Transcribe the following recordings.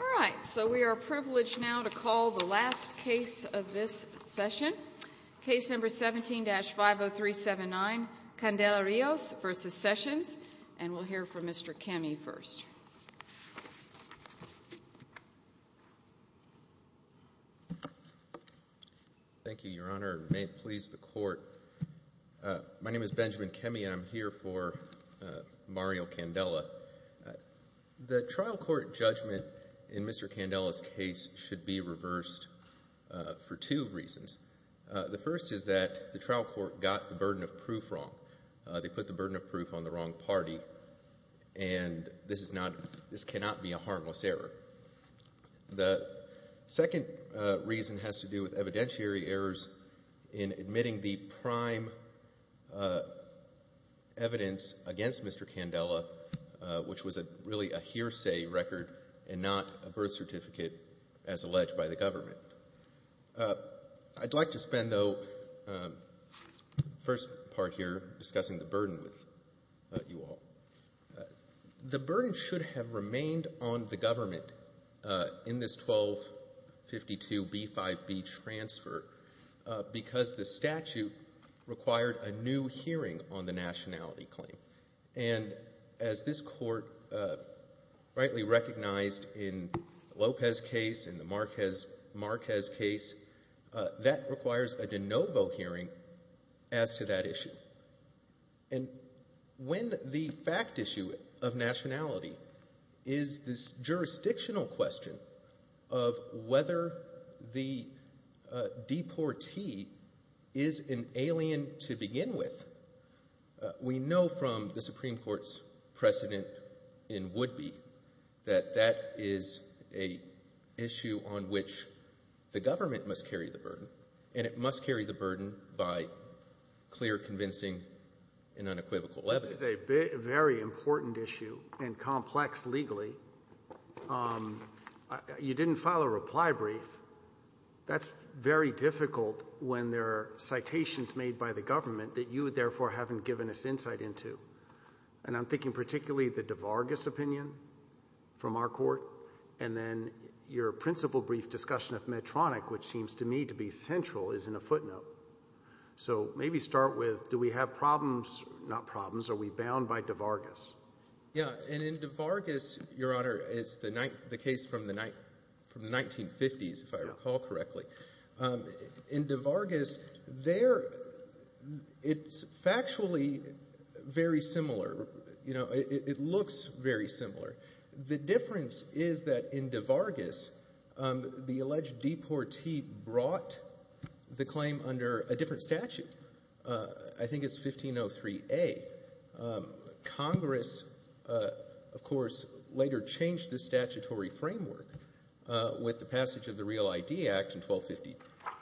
All right, so we are privileged now to call the last case of this session. Case number 17-50379, Candela-Rios v. Sessions, and we'll hear from Mr. Kemme first. Thank you, Your Honor. It may please the Court. My name is Benjamin Kemme, and I'm here for Mario Candela. The trial court judgment in Mr. Candela's case should be reversed for two reasons. The first is that the trial court got the burden of proof wrong. They put the burden of proof on the wrong party, and this cannot be a harmless error. The second reason has to do with evidentiary errors in admitting the prime evidence against Mr. Candela, which was really a hearsay record and not a birth certificate as alleged by the government. I'd like to spend, though, the first part here discussing the burden with you all. The burden should have remained on the government in this 1252B5B transfer because the statute required a new hearing on the nationality claim. And as this Court rightly recognized in the Lopez case and the Marquez case, that requires a de novo hearing as to that issue. And when the fact issue of nationality is this jurisdictional question of whether the deportee is an alien to begin with, we know from the Supreme Court's precedent in Woodby that that is an issue on which the government must carry the burden, and it must carry the burden by clear, convincing, and unequivocal evidence. This is a very important issue and complex legally. You didn't file a reply brief. That's very difficult when there are citations made by the government that you, therefore, haven't given us insight into. And I'm thinking particularly the De Vargas opinion from our Court and then your principle brief discussion of Medtronic, which seems to me to be central, is in a footnote. So maybe start with do we have problems? Not problems. Are we bound by De Vargas? Yeah, and in De Vargas, Your Honor, it's the case from the 1950s, if I recall correctly. In De Vargas, it's factually very similar. It looks very similar. The difference is that in De Vargas, the alleged deportee brought the claim under a different statute. I think it's 1503A. Congress, of course, later changed the statutory framework with the passage of the Real ID Act in 1250,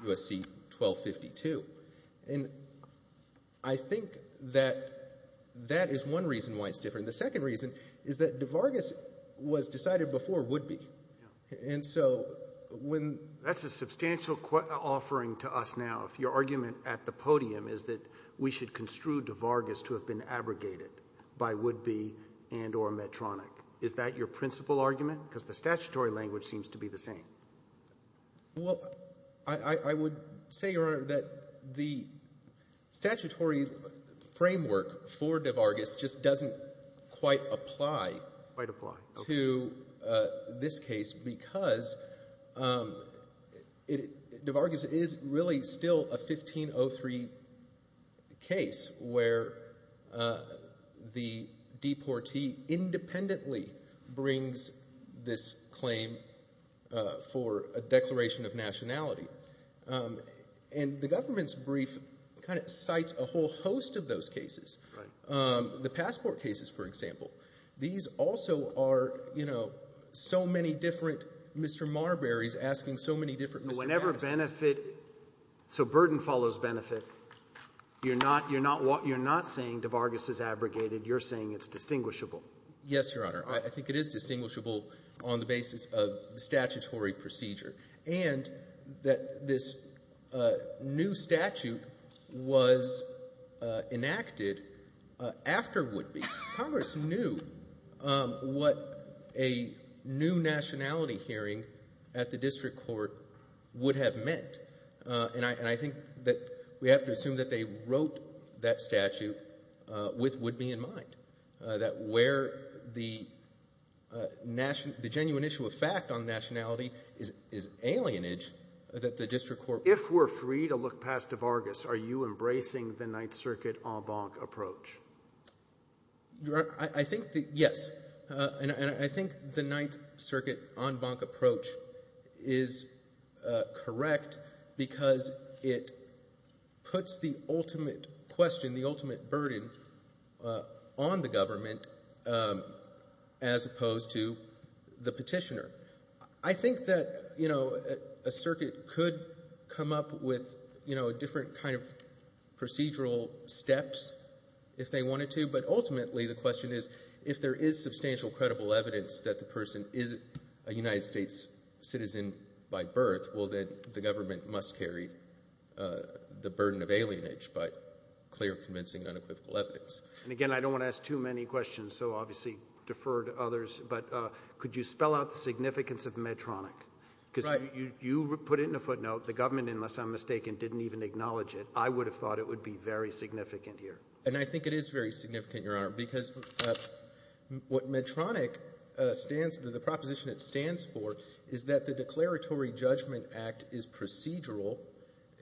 U.S.C. 1252. And I think that that is one reason why it's different. The second reason is that De Vargas was decided before Woodby. And so when— That's a substantial offering to us now if your argument at the podium is that we should construe De Vargas to have been abrogated by Woodby and or Medtronic. Is that your principle argument? Well, I would say, Your Honor, that the statutory framework for De Vargas just doesn't quite apply to this case because De Vargas is really still a 1503 case where the deportee independently brings this claim for a declaration of nationality. And the government's brief kind of cites a whole host of those cases. Right. The passport cases, for example. These also are, you know, so many different Mr. Marbury's asking so many different Mr. Madison's. So whenever benefit — so burden follows benefit, you're not — you're not saying De Vargas is abrogated. You're saying it's distinguishable. Yes, Your Honor. I think it is distinguishable on the basis of the statutory procedure, and that this new statute was enacted after Woodby. Congress knew what a new nationality hearing at the district court would have meant. And I think that we have to assume that they wrote that statute with Woodby in mind, that where the genuine issue of fact on nationality is alienage, that the district court — So if we're free to look past De Vargas, are you embracing the Ninth Circuit en banc approach? I think that, yes. And I think the Ninth Circuit en banc approach is correct because it puts the ultimate question, the ultimate burden, on the government as opposed to the petitioner. I think that, you know, a circuit could come up with, you know, different kind of procedural steps if they wanted to. But ultimately the question is if there is substantial credible evidence that the person is a United States citizen by birth, well, then the government must carry the burden of alienage by clear, convincing, unequivocal evidence. And again, I don't want to ask too many questions, so obviously defer to others. But could you spell out the significance of Medtronic? Right. Because you put it in a footnote. The government, unless I'm mistaken, didn't even acknowledge it. I would have thought it would be very significant here. And I think it is very significant, Your Honor, because what Medtronic stands — the proposition it stands for is that the Declaratory Judgment Act is procedural.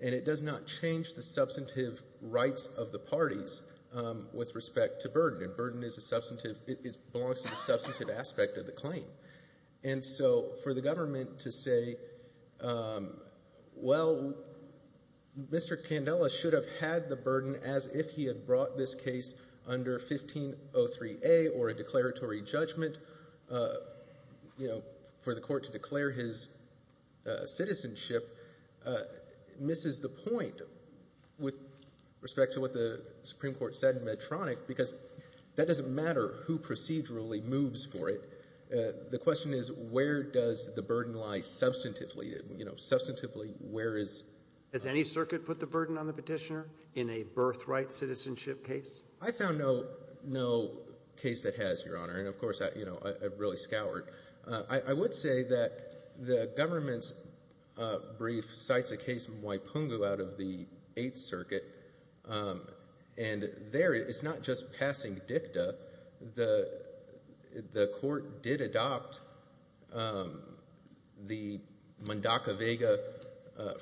And it does not change the substantive rights of the parties with respect to burden. Burden is a substantive — it belongs to the substantive aspect of the claim. And so for the government to say, well, Mr. Candela should have had the burden as if he had brought this case under 1503A or a declaratory judgment, you know, for the court to declare his citizenship, misses the point with respect to what the Supreme Court said in Medtronic, because that doesn't matter who procedurally moves for it. The question is, where does the burden lie substantively? You know, substantively, where is — Has any circuit put the burden on the Petitioner in a birthright citizenship case? I found no case that has, Your Honor. And of course, you know, I really scoured. I would say that the government's brief cites a case from Waipungu out of the Eighth Circuit. And there it's not just passing dicta. The court did adopt the Mundaka-Vega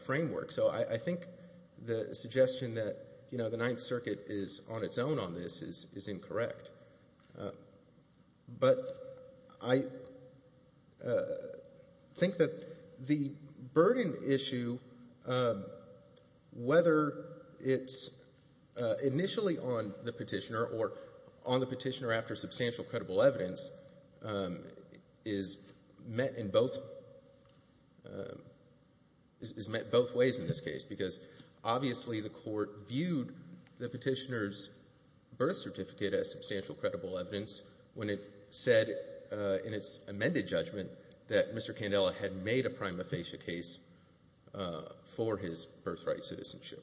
framework. So I think the suggestion that, you know, the Ninth Circuit is on its own on this is incorrect. But I think that the burden issue, whether it's initially on the Petitioner or on the Petitioner after substantial credible evidence, is met in both — is met both ways in this case, because obviously the court viewed the Petitioner's birth certificate as substantial credible evidence when it said in its amended judgment that Mr. Candela had made a prima facie case for his birthright citizenship.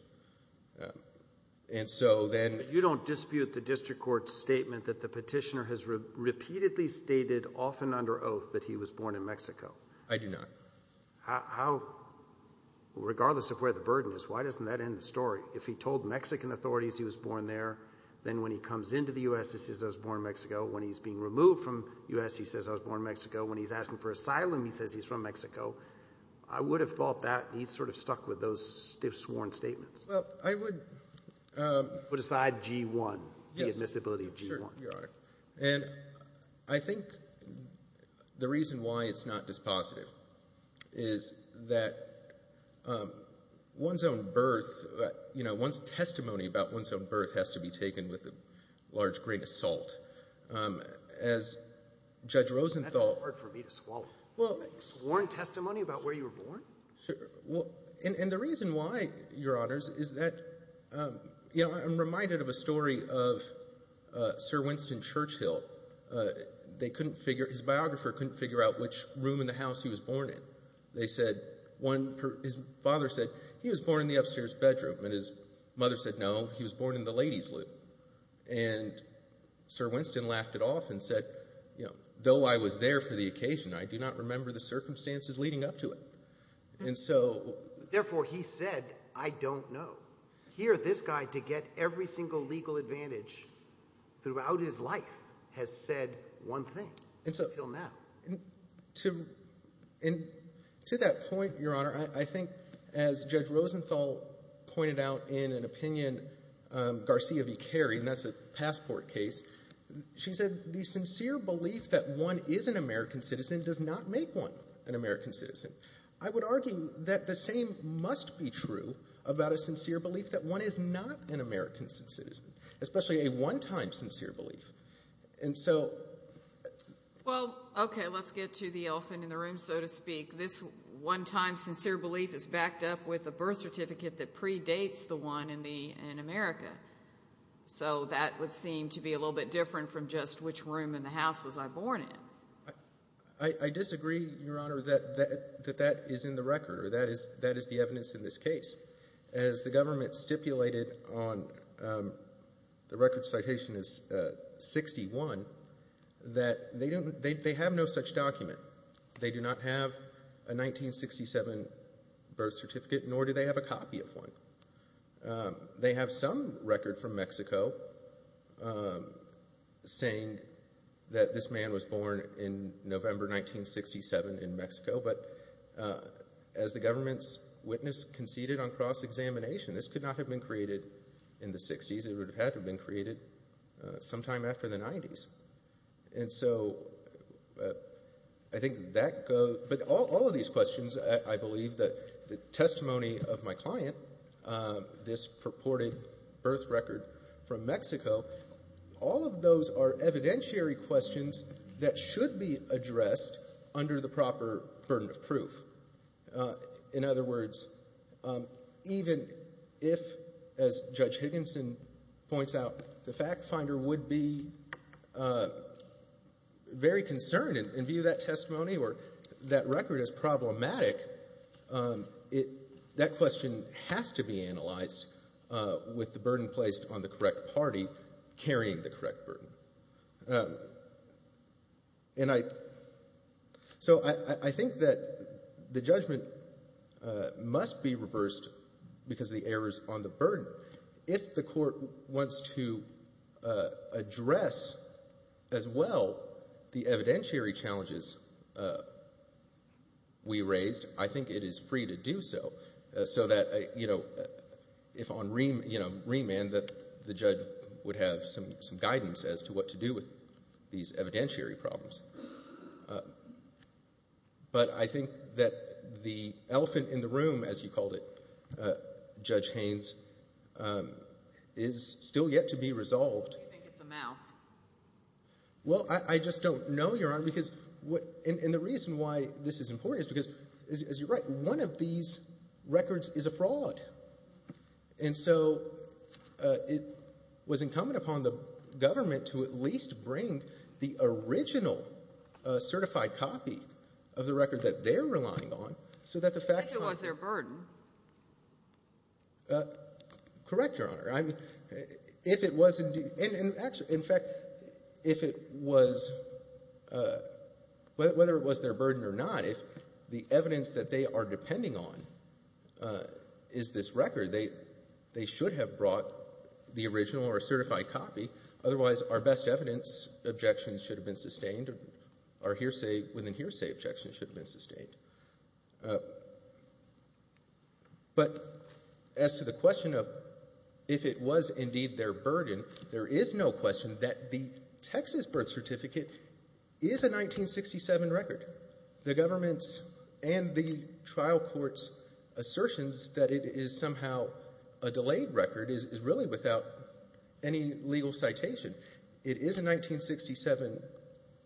And so then — Well, I would argue at the district court's statement that the Petitioner has repeatedly stated often under oath that he was born in Mexico. I do not. How — regardless of where the burden is, why doesn't that end the story? If he told Mexican authorities he was born there, then when he comes into the U.S., he says he was born in Mexico. When he's being removed from the U.S., he says he was born in Mexico. When he's asking for asylum, he says he's from Mexico. I would have thought that he sort of stuck with those sworn statements. Well, I would — Put aside G-1, the admissibility of G-1. Sure, Your Honor. And I think the reason why it's not dispositive is that one's own birth — you know, one's testimony about one's own birth has to be taken with a large grain of salt. As Judge Rosenthal — That's hard for me to swallow. Well — Sworn testimony about where you were born? Sure. And the reason why, Your Honors, is that — you know, I'm reminded of a story of Sir Winston Churchill. They couldn't figure — his biographer couldn't figure out which room in the house he was born in. They said one — his father said he was born in the upstairs bedroom, and his mother said no, he was born in the ladies' room. And Sir Winston laughed it off and said, you know, though I was there for the occasion, I do not remember the circumstances leading up to it. And so — Therefore, he said, I don't know. Here, this guy, to get every single legal advantage throughout his life, has said one thing until now. And to that point, Your Honor, I think as Judge Rosenthal pointed out in an opinion, Garcia v. Carey, and that's a passport case, she said the sincere belief that one is an American citizen does not make one an American citizen. I would argue that the same must be true about a sincere belief that one is not an American citizen, especially a one-time sincere belief. And so — Well, okay, let's get to the elephant in the room, so to speak. This one-time sincere belief is backed up with a birth certificate that predates the one in America. So that would seem to be a little bit different from just which room in the house was I born in. I disagree, Your Honor, that that is in the record or that is the evidence in this case. As the government stipulated on the record citation is 61, that they have no such document. They do not have a 1967 birth certificate, nor do they have a copy of one. They have some record from Mexico saying that this man was born in November 1967 in Mexico. But as the government's witness conceded on cross-examination, this could not have been created in the 60s. It would have had to have been created sometime after the 90s. And so I think that goes—but all of these questions, I believe that the testimony of my client, this purported birth record from Mexico, all of those are evidentiary questions that should be addressed under the proper burden of proof. In other words, even if, as Judge Higginson points out, the fact finder would be very concerned and view that testimony or that record as problematic, that question has to be analyzed with the burden placed on the correct party carrying the correct burden. And I—so I think that the judgment must be reversed because of the errors on the burden. If the court wants to address as well the evidentiary challenges we raised, I think it is free to do so, so that, you know, if on remand that the judge would have some guidance as to what to do with these evidentiary problems. But I think that the elephant in the room, as you called it, Judge Haynes, is still yet to be resolved. Do you think it's a mouse? Well, I just don't know, Your Honor, because—and the reason why this is important is because, as you're right, and so it was incumbent upon the government to at least bring the original certified copy of the record that they're relying on, so that the fact— If it was their burden. Correct, Your Honor. If it was indeed—and in fact, if it was—whether it was their burden or not, if the evidence that they are depending on is this record, they should have brought the original or certified copy. Otherwise, our best evidence objections should have been sustained. Our hearsay—within hearsay objections should have been sustained. But as to the question of if it was indeed their burden, there is no question that the Texas birth certificate is a 1967 record. The government's and the trial court's assertions that it is somehow a delayed record is really without any legal citation. It is a 1967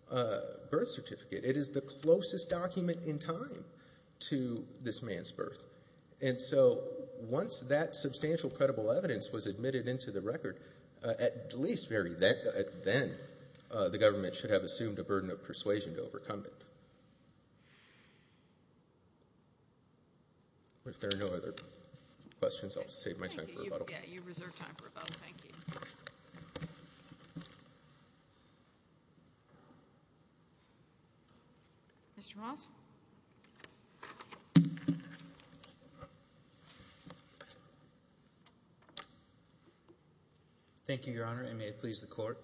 birth certificate. It is the closest document in time to this man's birth. And so once that substantial credible evidence was admitted into the record, at least very then, the government should have assumed a burden of persuasion to overcome it. If there are no other questions, I'll save my time for rebuttal. Yeah, you reserve time for rebuttal. Thank you. Mr. Moss? Thank you, Your Honor, and may it please the Court.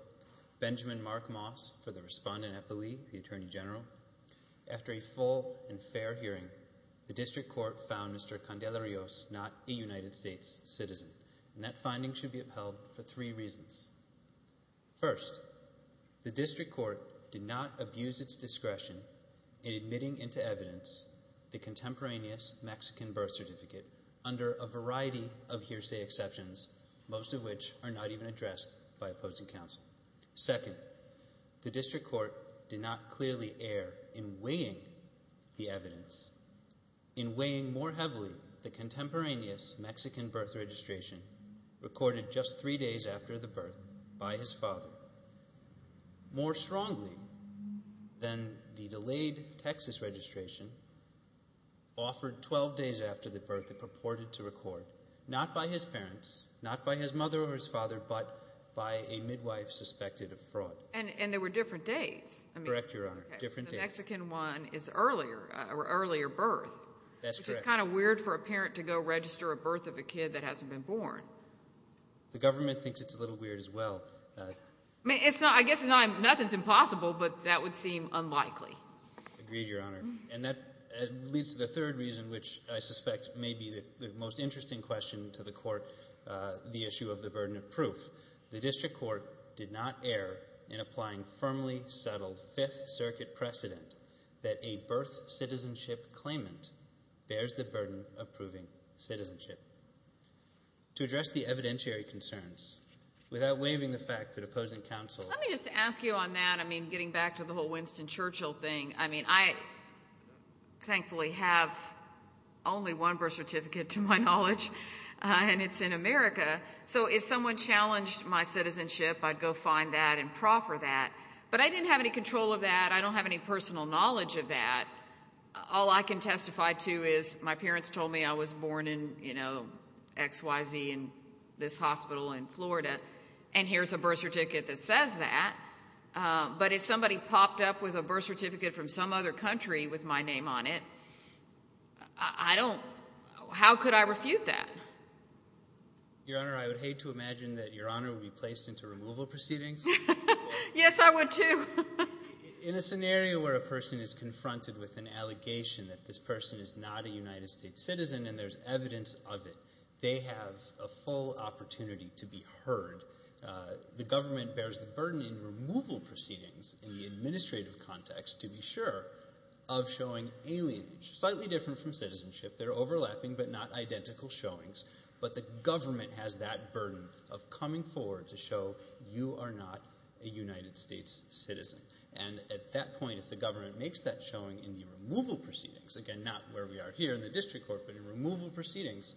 Benjamin Mark Moss for the Respondent at the League, the Attorney General. After a full and fair hearing, the district court found Mr. Candelarios not a United States citizen, and that finding should be upheld for three reasons. First, the district court did not abuse its discretion in admitting into evidence the contemporaneous Mexican birth certificate under a variety of hearsay exceptions, most of which are not even addressed by opposing counsel. Second, the district court did not clearly err in weighing the evidence. In weighing more heavily the contemporaneous Mexican birth registration recorded just three days after the birth by his father, more strongly than the delayed Texas registration offered 12 days after the birth it purported to record, not by his parents, not by his mother or his father, but by a midwife suspected of fraud. And there were different dates. Correct, Your Honor, different dates. The Mexican one is earlier, or earlier birth. That's correct. Which is kind of weird for a parent to go register a birth of a kid that hasn't been born. The government thinks it's a little weird as well. I mean, I guess nothing's impossible, but that would seem unlikely. Agreed, Your Honor. And that leads to the third reason, which I suspect may be the most interesting question to the Court, the issue of the burden of proof. The district court did not err in applying firmly settled Fifth Circuit precedent that a birth citizenship claimant bears the burden of proving citizenship. To address the evidentiary concerns, without waiving the fact that opposing counsel Let me just ask you on that, I mean, getting back to the whole Winston Churchill thing. I mean, I thankfully have only one birth certificate to my knowledge, and it's in America. So if someone challenged my citizenship, I'd go find that and proffer that. But I didn't have any control of that. I don't have any personal knowledge of that. All I can testify to is my parents told me I was born in XYZ in this hospital in Florida, and here's a birth certificate that says that. But if somebody popped up with a birth certificate from some other country with my name on it, I don't – how could I refute that? Your Honor, I would hate to imagine that Your Honor would be placed into removal proceedings. Yes, I would too. In a scenario where a person is confronted with an allegation that this person is not a United States citizen and there's evidence of it, they have a full opportunity to be heard. The government bears the burden in removal proceedings in the administrative context to be sure of showing alienage, slightly different from citizenship. They're overlapping but not identical showings. But the government has that burden of coming forward to show you are not a United States citizen. And at that point, if the government makes that showing in the removal proceedings, again, not where we are here in the district court, but in removal proceedings,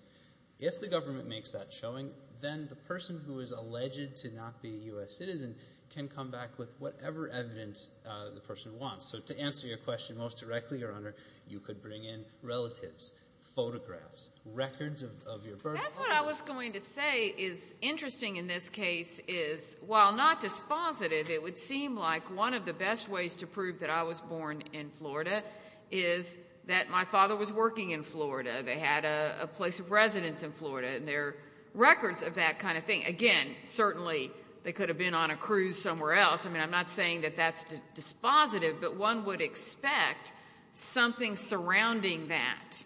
if the government makes that showing, then the person who is alleged to not be a U.S. citizen can come back with whatever evidence the person wants. So to answer your question most directly, Your Honor, you could bring in relatives, photographs, records of your birth. That's what I was going to say is interesting in this case is while not dispositive, it would seem like one of the best ways to prove that I was born in Florida is that my father was working in Florida. They had a place of residence in Florida, and there are records of that kind of thing. Again, certainly they could have been on a cruise somewhere else. I mean, I'm not saying that that's dispositive, but one would expect something surrounding that.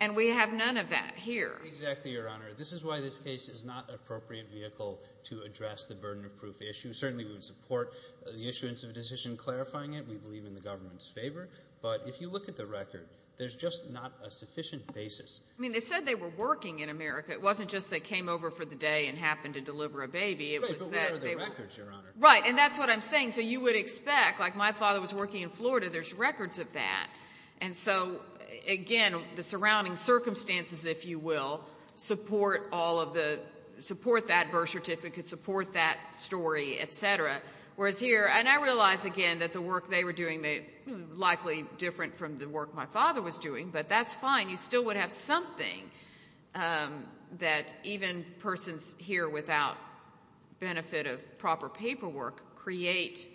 And we have none of that here. Exactly, Your Honor. This is why this case is not an appropriate vehicle to address the burden of proof issue. Certainly we would support the issuance of a decision clarifying it. We believe in the government's favor. But if you look at the record, there's just not a sufficient basis. I mean, they said they were working in America. It wasn't just they came over for the day and happened to deliver a baby. Right, but where are the records, Your Honor? Right, and that's what I'm saying. So you would expect, like my father was working in Florida, there's records of that. And so, again, the surrounding circumstances, if you will, support that birth certificate, support that story, et cetera. Whereas here, and I realize, again, that the work they were doing was likely different from the work my father was doing, but that's fine. You still would have something that even persons here without benefit of proper paperwork create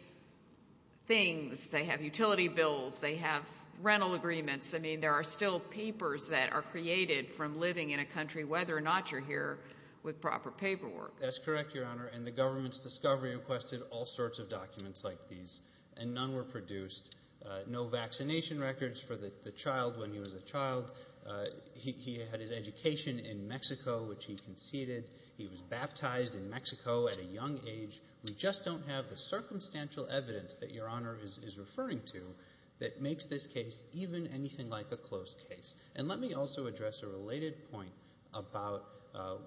things. They have utility bills. They have rental agreements. I mean, there are still papers that are created from living in a country, whether or not you're here, with proper paperwork. That's correct, Your Honor, and the government's discovery requested all sorts of documents like these, and none were produced. No vaccination records for the child when he was a child. He had his education in Mexico, which he conceded. He was baptized in Mexico at a young age. We just don't have the circumstantial evidence that Your Honor is referring to that makes this case even anything like a closed case. And let me also address a related point about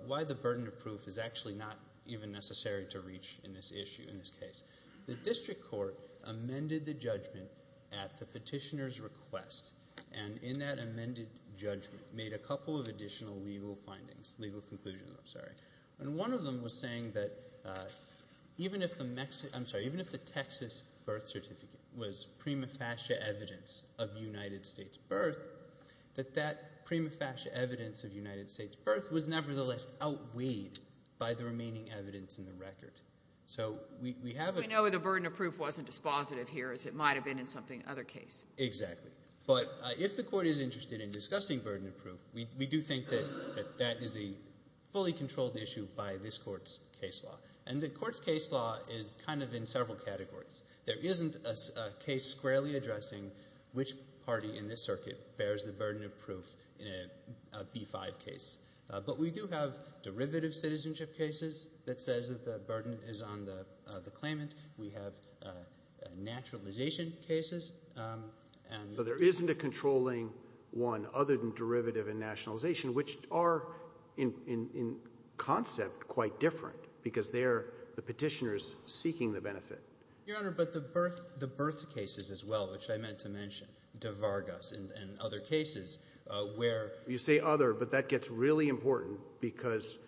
why the burden of proof is actually not even necessary to reach in this issue, in this case. The district court amended the judgment at the petitioner's request, and in that amended judgment made a couple of additional legal findings, legal conclusions, I'm sorry. And one of them was saying that even if the Texas birth certificate was prima facie evidence of United States birth, that that prima facie evidence of United States birth was nevertheless outweighed by the remaining evidence in the record. So we have a- We know the burden of proof wasn't dispositive here as it might have been in some other case. Exactly. But if the court is interested in discussing burden of proof, we do think that that is a fully controlled issue by this court's case law. And the court's case law is kind of in several categories. There isn't a case squarely addressing which party in this circuit bears the burden of proof in a B-5 case. But we do have derivative citizenship cases that says that the burden is on the claimant. We have naturalization cases and- But there isn't a controlling one other than derivative and nationalization, which are in concept quite different because they're the petitioner's seeking the benefit. Your Honor, but the birth cases as well, which I meant to mention, De Vargas and other cases where- It's really important because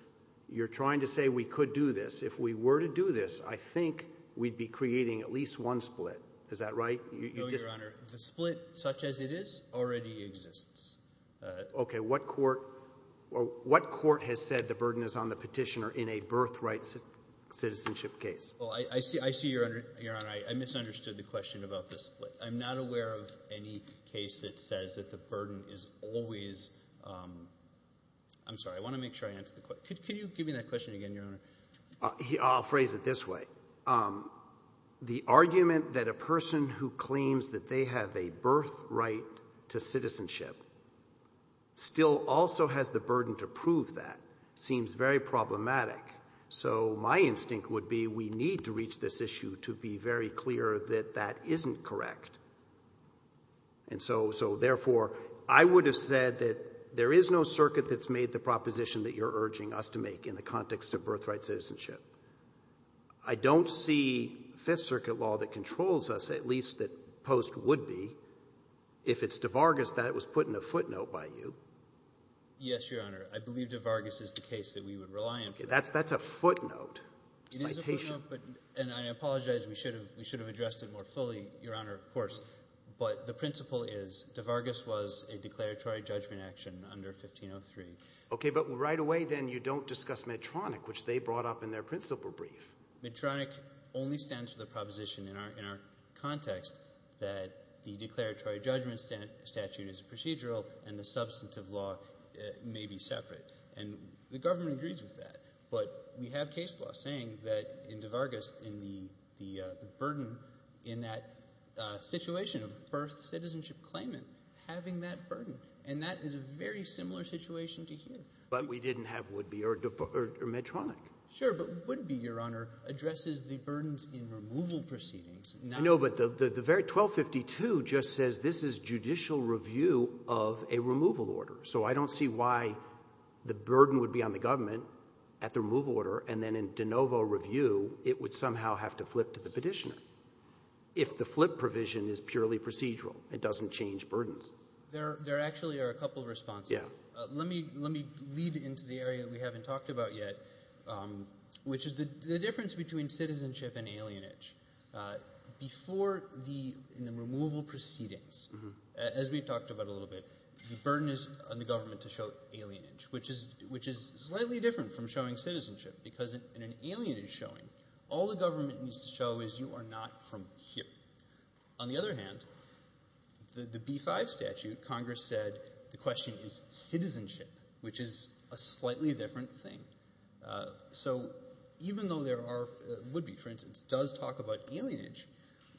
you're trying to say we could do this. If we were to do this, I think we'd be creating at least one split. Is that right? No, Your Honor. The split, such as it is, already exists. Okay. What court has said the burden is on the petitioner in a birthright citizenship case? Well, I see, Your Honor, I misunderstood the question about the split. I'm not aware of any case that says that the burden is always-I'm sorry, I want to make sure I answer the question. Can you give me that question again, Your Honor? I'll phrase it this way. The argument that a person who claims that they have a birthright to citizenship still also has the burden to prove that seems very problematic. So my instinct would be we need to reach this issue to be very clear that that isn't correct. And so, therefore, I would have said that there is no circuit that's made the proposition that you're urging us to make in the context of birthright citizenship. I don't see Fifth Circuit law that controls us, at least that Post would be. If it's De Vargas, that was put in a footnote by you. Yes, Your Honor. I believe De Vargas is the case that we would rely on for that. Okay. That's a footnote. Citation. It is a footnote, and I apologize. We should have addressed it more fully, Your Honor, of course. But the principle is De Vargas was a declaratory judgment action under 1503. Okay. But right away, then, you don't discuss Medtronic, which they brought up in their principle brief. Medtronic only stands for the proposition in our context that the declaratory judgment statute is procedural and the substantive law may be separate. And the government agrees with that. But we have case law saying that in De Vargas, in the burden in that situation of birth citizenship claimant, having that burden. And that is a very similar situation to here. But we didn't have Woodby or Medtronic. Sure. But Woodby, Your Honor, addresses the burdens in removal proceedings. No, but the 1252 just says this is judicial review of a removal order. So I don't see why the burden would be on the government at the removal order, and then in de novo review, it would somehow have to flip to the petitioner. If the flip provision is purely procedural, it doesn't change burdens. There actually are a couple of responses. Yeah. Let me lead into the area we haven't talked about yet, which is the difference between citizenship and alienage. Before the removal proceedings, as we've talked about a little bit, the burden is on the government to show alienage, which is slightly different from showing citizenship. Because in an alienage showing, all the government needs to show is you are not from here. On the other hand, the B-5 statute, Congress said the question is citizenship, which is a slightly different thing. So even though there are – Woodby, for instance, does talk about alienage,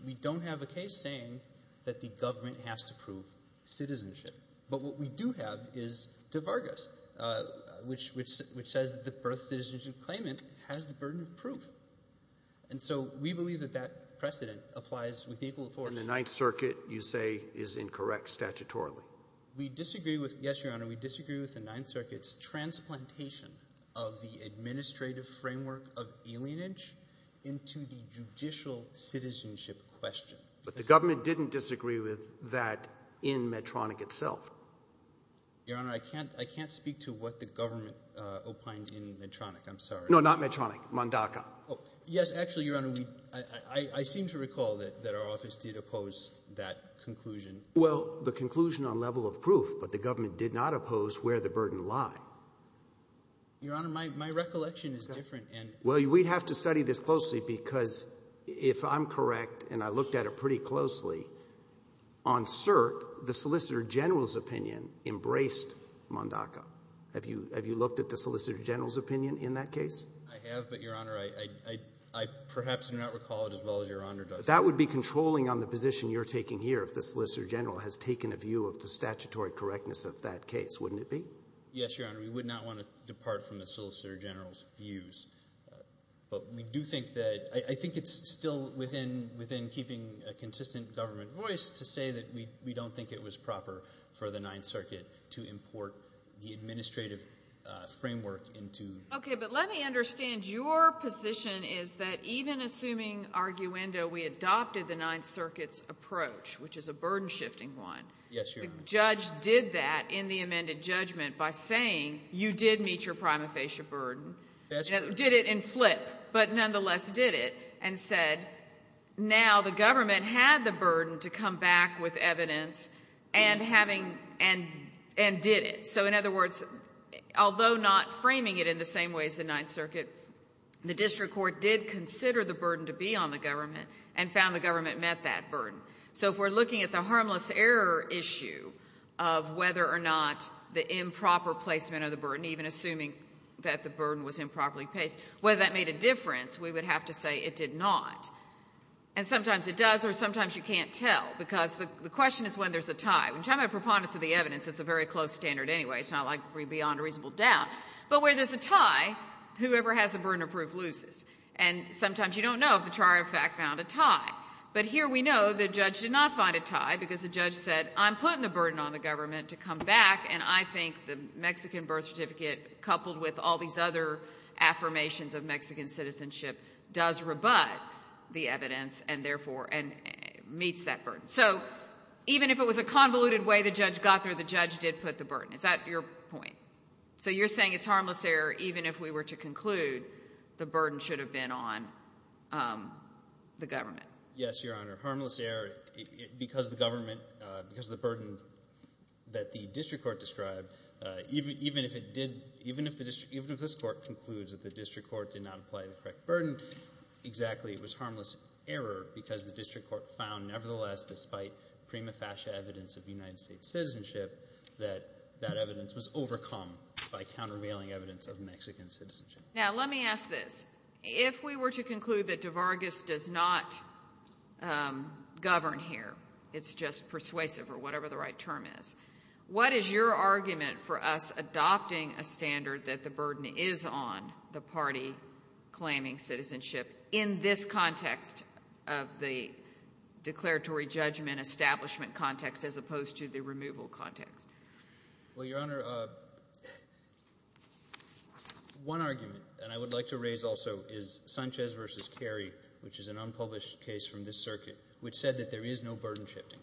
we don't have a case saying that the government has to prove citizenship. But what we do have is De Vargas, which says that the birth citizenship claimant has the burden of proof. And so we believe that that precedent applies with equal force. And the Ninth Circuit, you say, is incorrect statutorily. We disagree with – yes, Your Honor. We disagree with the Ninth Circuit's transplantation of the administrative framework of alienage into the judicial citizenship question. But the government didn't disagree with that in Medtronic itself. Your Honor, I can't speak to what the government opined in Medtronic. I'm sorry. No, not Medtronic. Mondaca. Yes, actually, Your Honor, I seem to recall that our office did oppose that conclusion. Well, the conclusion on level of proof, but the government did not oppose where the burden lied. Your Honor, my recollection is different. Well, we'd have to study this closely, because if I'm correct, and I looked at it pretty closely, on cert, the Solicitor General's opinion embraced Mondaca. Have you looked at the Solicitor General's opinion in that case? I have, but, Your Honor, I perhaps do not recall it as well as Your Honor does. That would be controlling on the position you're taking here if the Solicitor General has taken a view of the statutory correctness of that case, wouldn't it be? Yes, Your Honor. We would not want to depart from the Solicitor General's views. But we do think that – I think it's still within keeping a consistent government voice to say that we don't think it was proper for the Ninth Circuit to import the administrative framework into – Okay, but let me understand. Your position is that even assuming, arguendo, we adopted the Ninth Circuit's approach, which is a burden-shifting one. Yes, Your Honor. The judge did that in the amended judgment by saying you did meet your prima facie burden. That's correct. Did it in flip, but nonetheless did it, and said now the government had the burden to come back with evidence and having – and did it. So in other words, although not framing it in the same way as the Ninth Circuit, the district court did consider the burden to be on the government and found the government met that burden. So if we're looking at the harmless error issue of whether or not the improper placement of the burden, even assuming that the burden was improperly placed, whether that made a difference, we would have to say it did not. And sometimes it does or sometimes you can't tell because the question is when there's a tie. When you're talking about preponderance of the evidence, it's a very close standard anyway. It's not like beyond a reasonable doubt. But where there's a tie, whoever has the burden of proof loses. And sometimes you don't know if the charge of fact found a tie. But here we know the judge did not find a tie because the judge said I'm putting the burden on the government to come back, and I think the Mexican birth certificate coupled with all these other affirmations of Mexican citizenship does rebut the evidence and therefore – and meets that burden. So even if it was a convoluted way the judge got there, the judge did put the burden. Is that your point? So you're saying it's harmless error even if we were to conclude the burden should have been on the government. Yes, Your Honor. Harmless error because the government – because of the burden that the district court described, even if it did – even if the district – even if this court concludes that the district court did not apply the correct burden exactly, it was harmless error because the district court found nevertheless despite prima facie evidence of United States citizenship that that evidence was overcome by countervailing evidence of Mexican citizenship. Now let me ask this. If we were to conclude that DeVargas does not govern here, it's just persuasive or whatever the right term is, what is your argument for us adopting a standard that the burden is on the party claiming citizenship in this context of the declaratory judgment establishment context as opposed to the removal context? Well, Your Honor, one argument that I would like to raise also is Sanchez v. Kerry, which is an unpublished case from this circuit, which said that there is no burden shifting.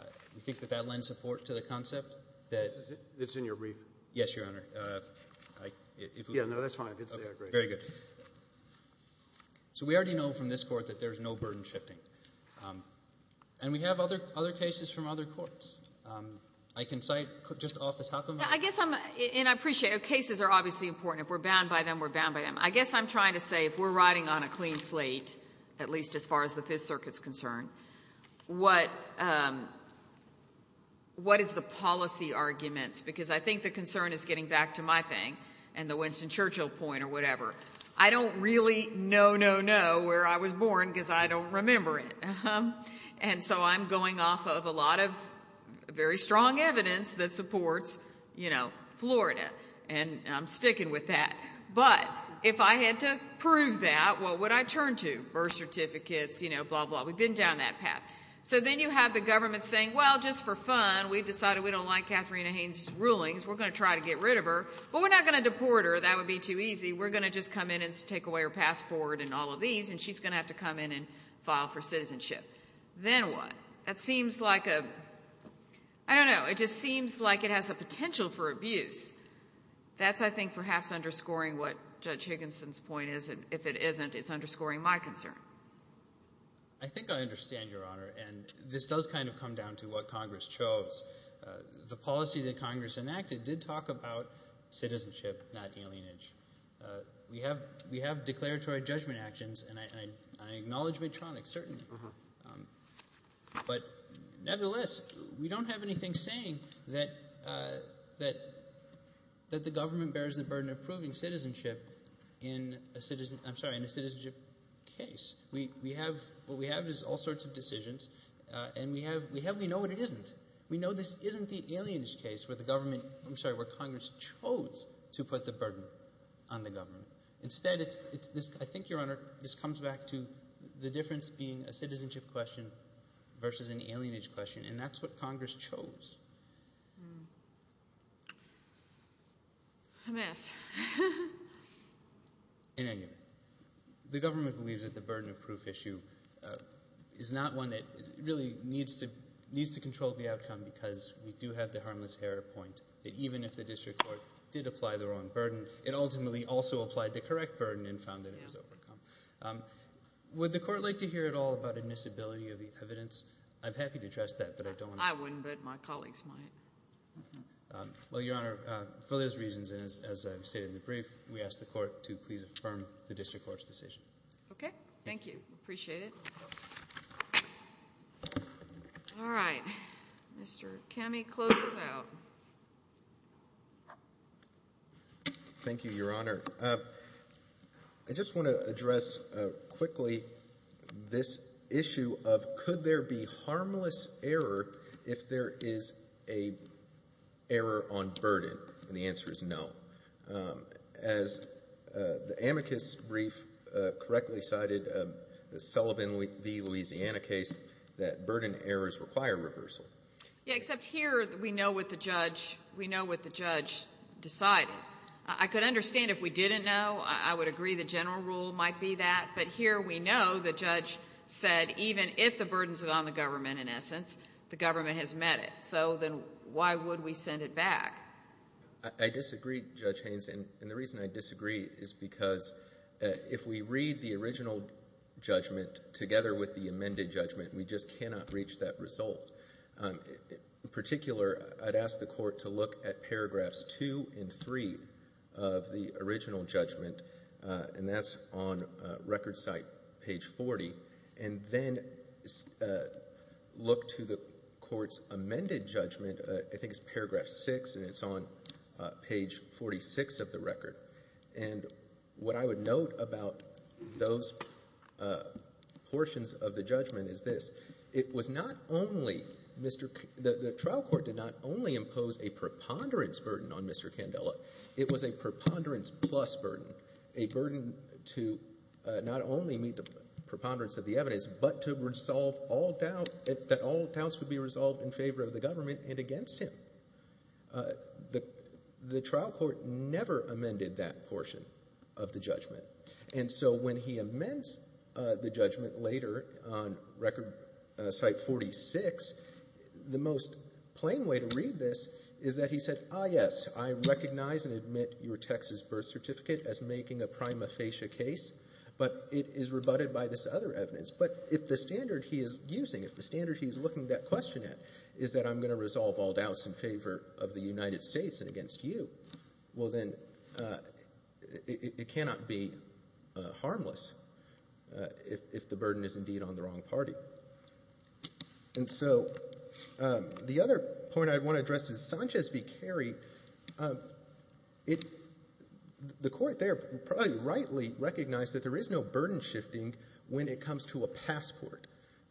Do you think that that lends support to the concept that – It's in your brief. Yes, Your Honor. Yeah, no, that's fine. Very good. So we already know from this court that there is no burden shifting. And we have other cases from other courts. I can cite just off the top of my – I guess I'm – and I appreciate it. Cases are obviously important. If we're bound by them, we're bound by them. I guess I'm trying to say if we're riding on a clean slate, at least as far as the Fifth Circuit is concerned, what is the policy arguments? Because I think the concern is getting back to my thing and the Winston Churchill point or whatever. I don't really know, know, know where I was born because I don't remember it. And so I'm going off of a lot of very strong evidence that supports Florida. And I'm sticking with that. But if I had to prove that, what would I turn to? Birth certificates, you know, blah, blah. We've been down that path. So then you have the government saying, well, just for fun, we've decided we don't like Katharina Haynes' rulings. We're going to try to get rid of her. But we're not going to deport her. That would be too easy. We're going to just come in and take away her passport and all of these, and she's going to have to come in and file for citizenship. Then what? That seems like a – I don't know. It just seems like it has a potential for abuse. That's, I think, perhaps underscoring what Judge Higginson's point is. If it isn't, it's underscoring my concern. I think I understand, Your Honor, and this does kind of come down to what Congress chose. The policy that Congress enacted did talk about citizenship, not alienage. We have declaratory judgment actions, and I acknowledge Medtronic, certainly. But nevertheless, we don't have anything saying that the government bears the burden of proving citizenship in a citizen – I'm sorry, in a citizenship case. We have – what we have is all sorts of decisions, and we have – we know what it isn't. We know this isn't the alienage case where the government – I'm sorry, where Congress chose to put the burden on the government. Instead, it's this – I think, Your Honor, this comes back to the difference being a citizenship question versus an alienage question, and that's what Congress chose. Hmm. I miss. In any event, the government believes that the burden of proof issue is not one that really needs to control the outcome because we do have the harmless error point that even if the district court did apply the wrong burden, it ultimately also applied the correct burden and found that it was overcome. Would the court like to hear at all about admissibility of the evidence? I'm happy to address that, but I don't want to – I wouldn't, but my colleagues might. Well, Your Honor, for those reasons and as I've stated in the brief, we ask the court to please affirm the district court's decision. Okay. Thank you. Appreciate it. All right. Mr. Kami, close it out. Thank you, Your Honor. I just want to address quickly this issue of could there be harmless error if there is an error on burden, and the answer is no. As the amicus brief correctly cited, the Sullivan v. Louisiana case, that burden errors require reversal. Yeah, except here we know what the judge decided. I could understand if we didn't know. I would agree the general rule might be that, but here we know the judge said even if the burden's on the government, in essence, the government has met it, so then why would we send it back? I disagree, Judge Haynes, and the reason I disagree is because if we read the original judgment together with the amended judgment, we just cannot reach that result. In particular, I'd ask the court to look at paragraphs two and three of the original judgment, and that's on record site page 40, and then look to the court's amended judgment, I think it's paragraph six, and it's on page 46 of the record, and what I would note about those portions of the judgment is this. It was not only Mr. — the trial court did not only impose a preponderance burden on Mr. Candela. It was a preponderance plus burden, a burden to not only meet the preponderance of the evidence, but to resolve all doubt that all doubts would be resolved in favor of the government and against him. The trial court never amended that portion of the judgment, and so when he amends the judgment later on record site 46, the most plain way to read this is that he said, ah, yes, I recognize and admit your Texas birth certificate as making a prima facie case, but it is rebutted by this other evidence. But if the standard he is using, if the standard he is looking that question at is that I'm going to resolve all doubts in favor of the United States and against you, well, then it cannot be harmless if the burden is indeed on the wrong party. And so the other point I want to address is Sanchez v. Carey. The court there probably rightly recognized that there is no burden shifting when it comes to a passport.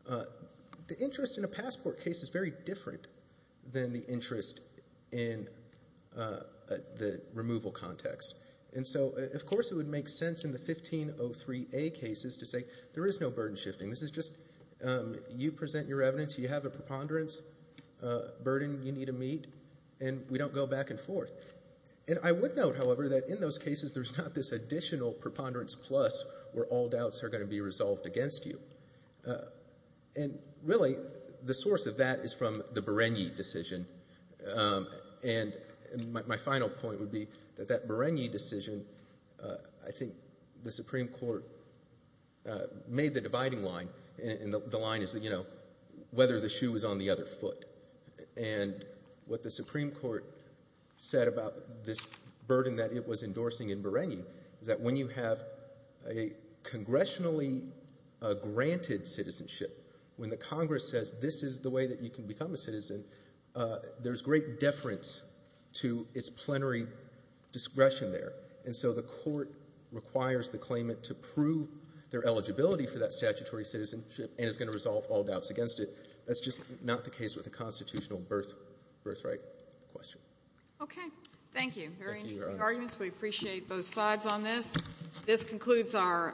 The interest in a passport case is very different than the interest in the removal context. And so, of course, it would make sense in the 1503A cases to say there is no burden shifting. This is just you present your evidence, you have a preponderance burden you need to meet, and we don't go back and forth. And I would note, however, that in those cases there's not this additional preponderance plus where all doubts are going to be resolved against you. And really the source of that is from the Bereni decision. And my final point would be that that Bereni decision, I think the Supreme Court made the dividing line, and the line is, you know, whether the shoe was on the other foot. And what the Supreme Court said about this burden that it was endorsing in Bereni is that when you have a congressionally granted citizenship, when the Congress says this is the way that you can become a citizen, there's great deference to its plenary discretion there. And so the court requires the claimant to prove their eligibility for that statutory citizenship and is going to resolve all doubts against it. That's just not the case with a constitutional birthright question. Okay. Thank you. Thank you, Your Honor. Very interesting arguments. We appreciate both sides on this. This concludes our.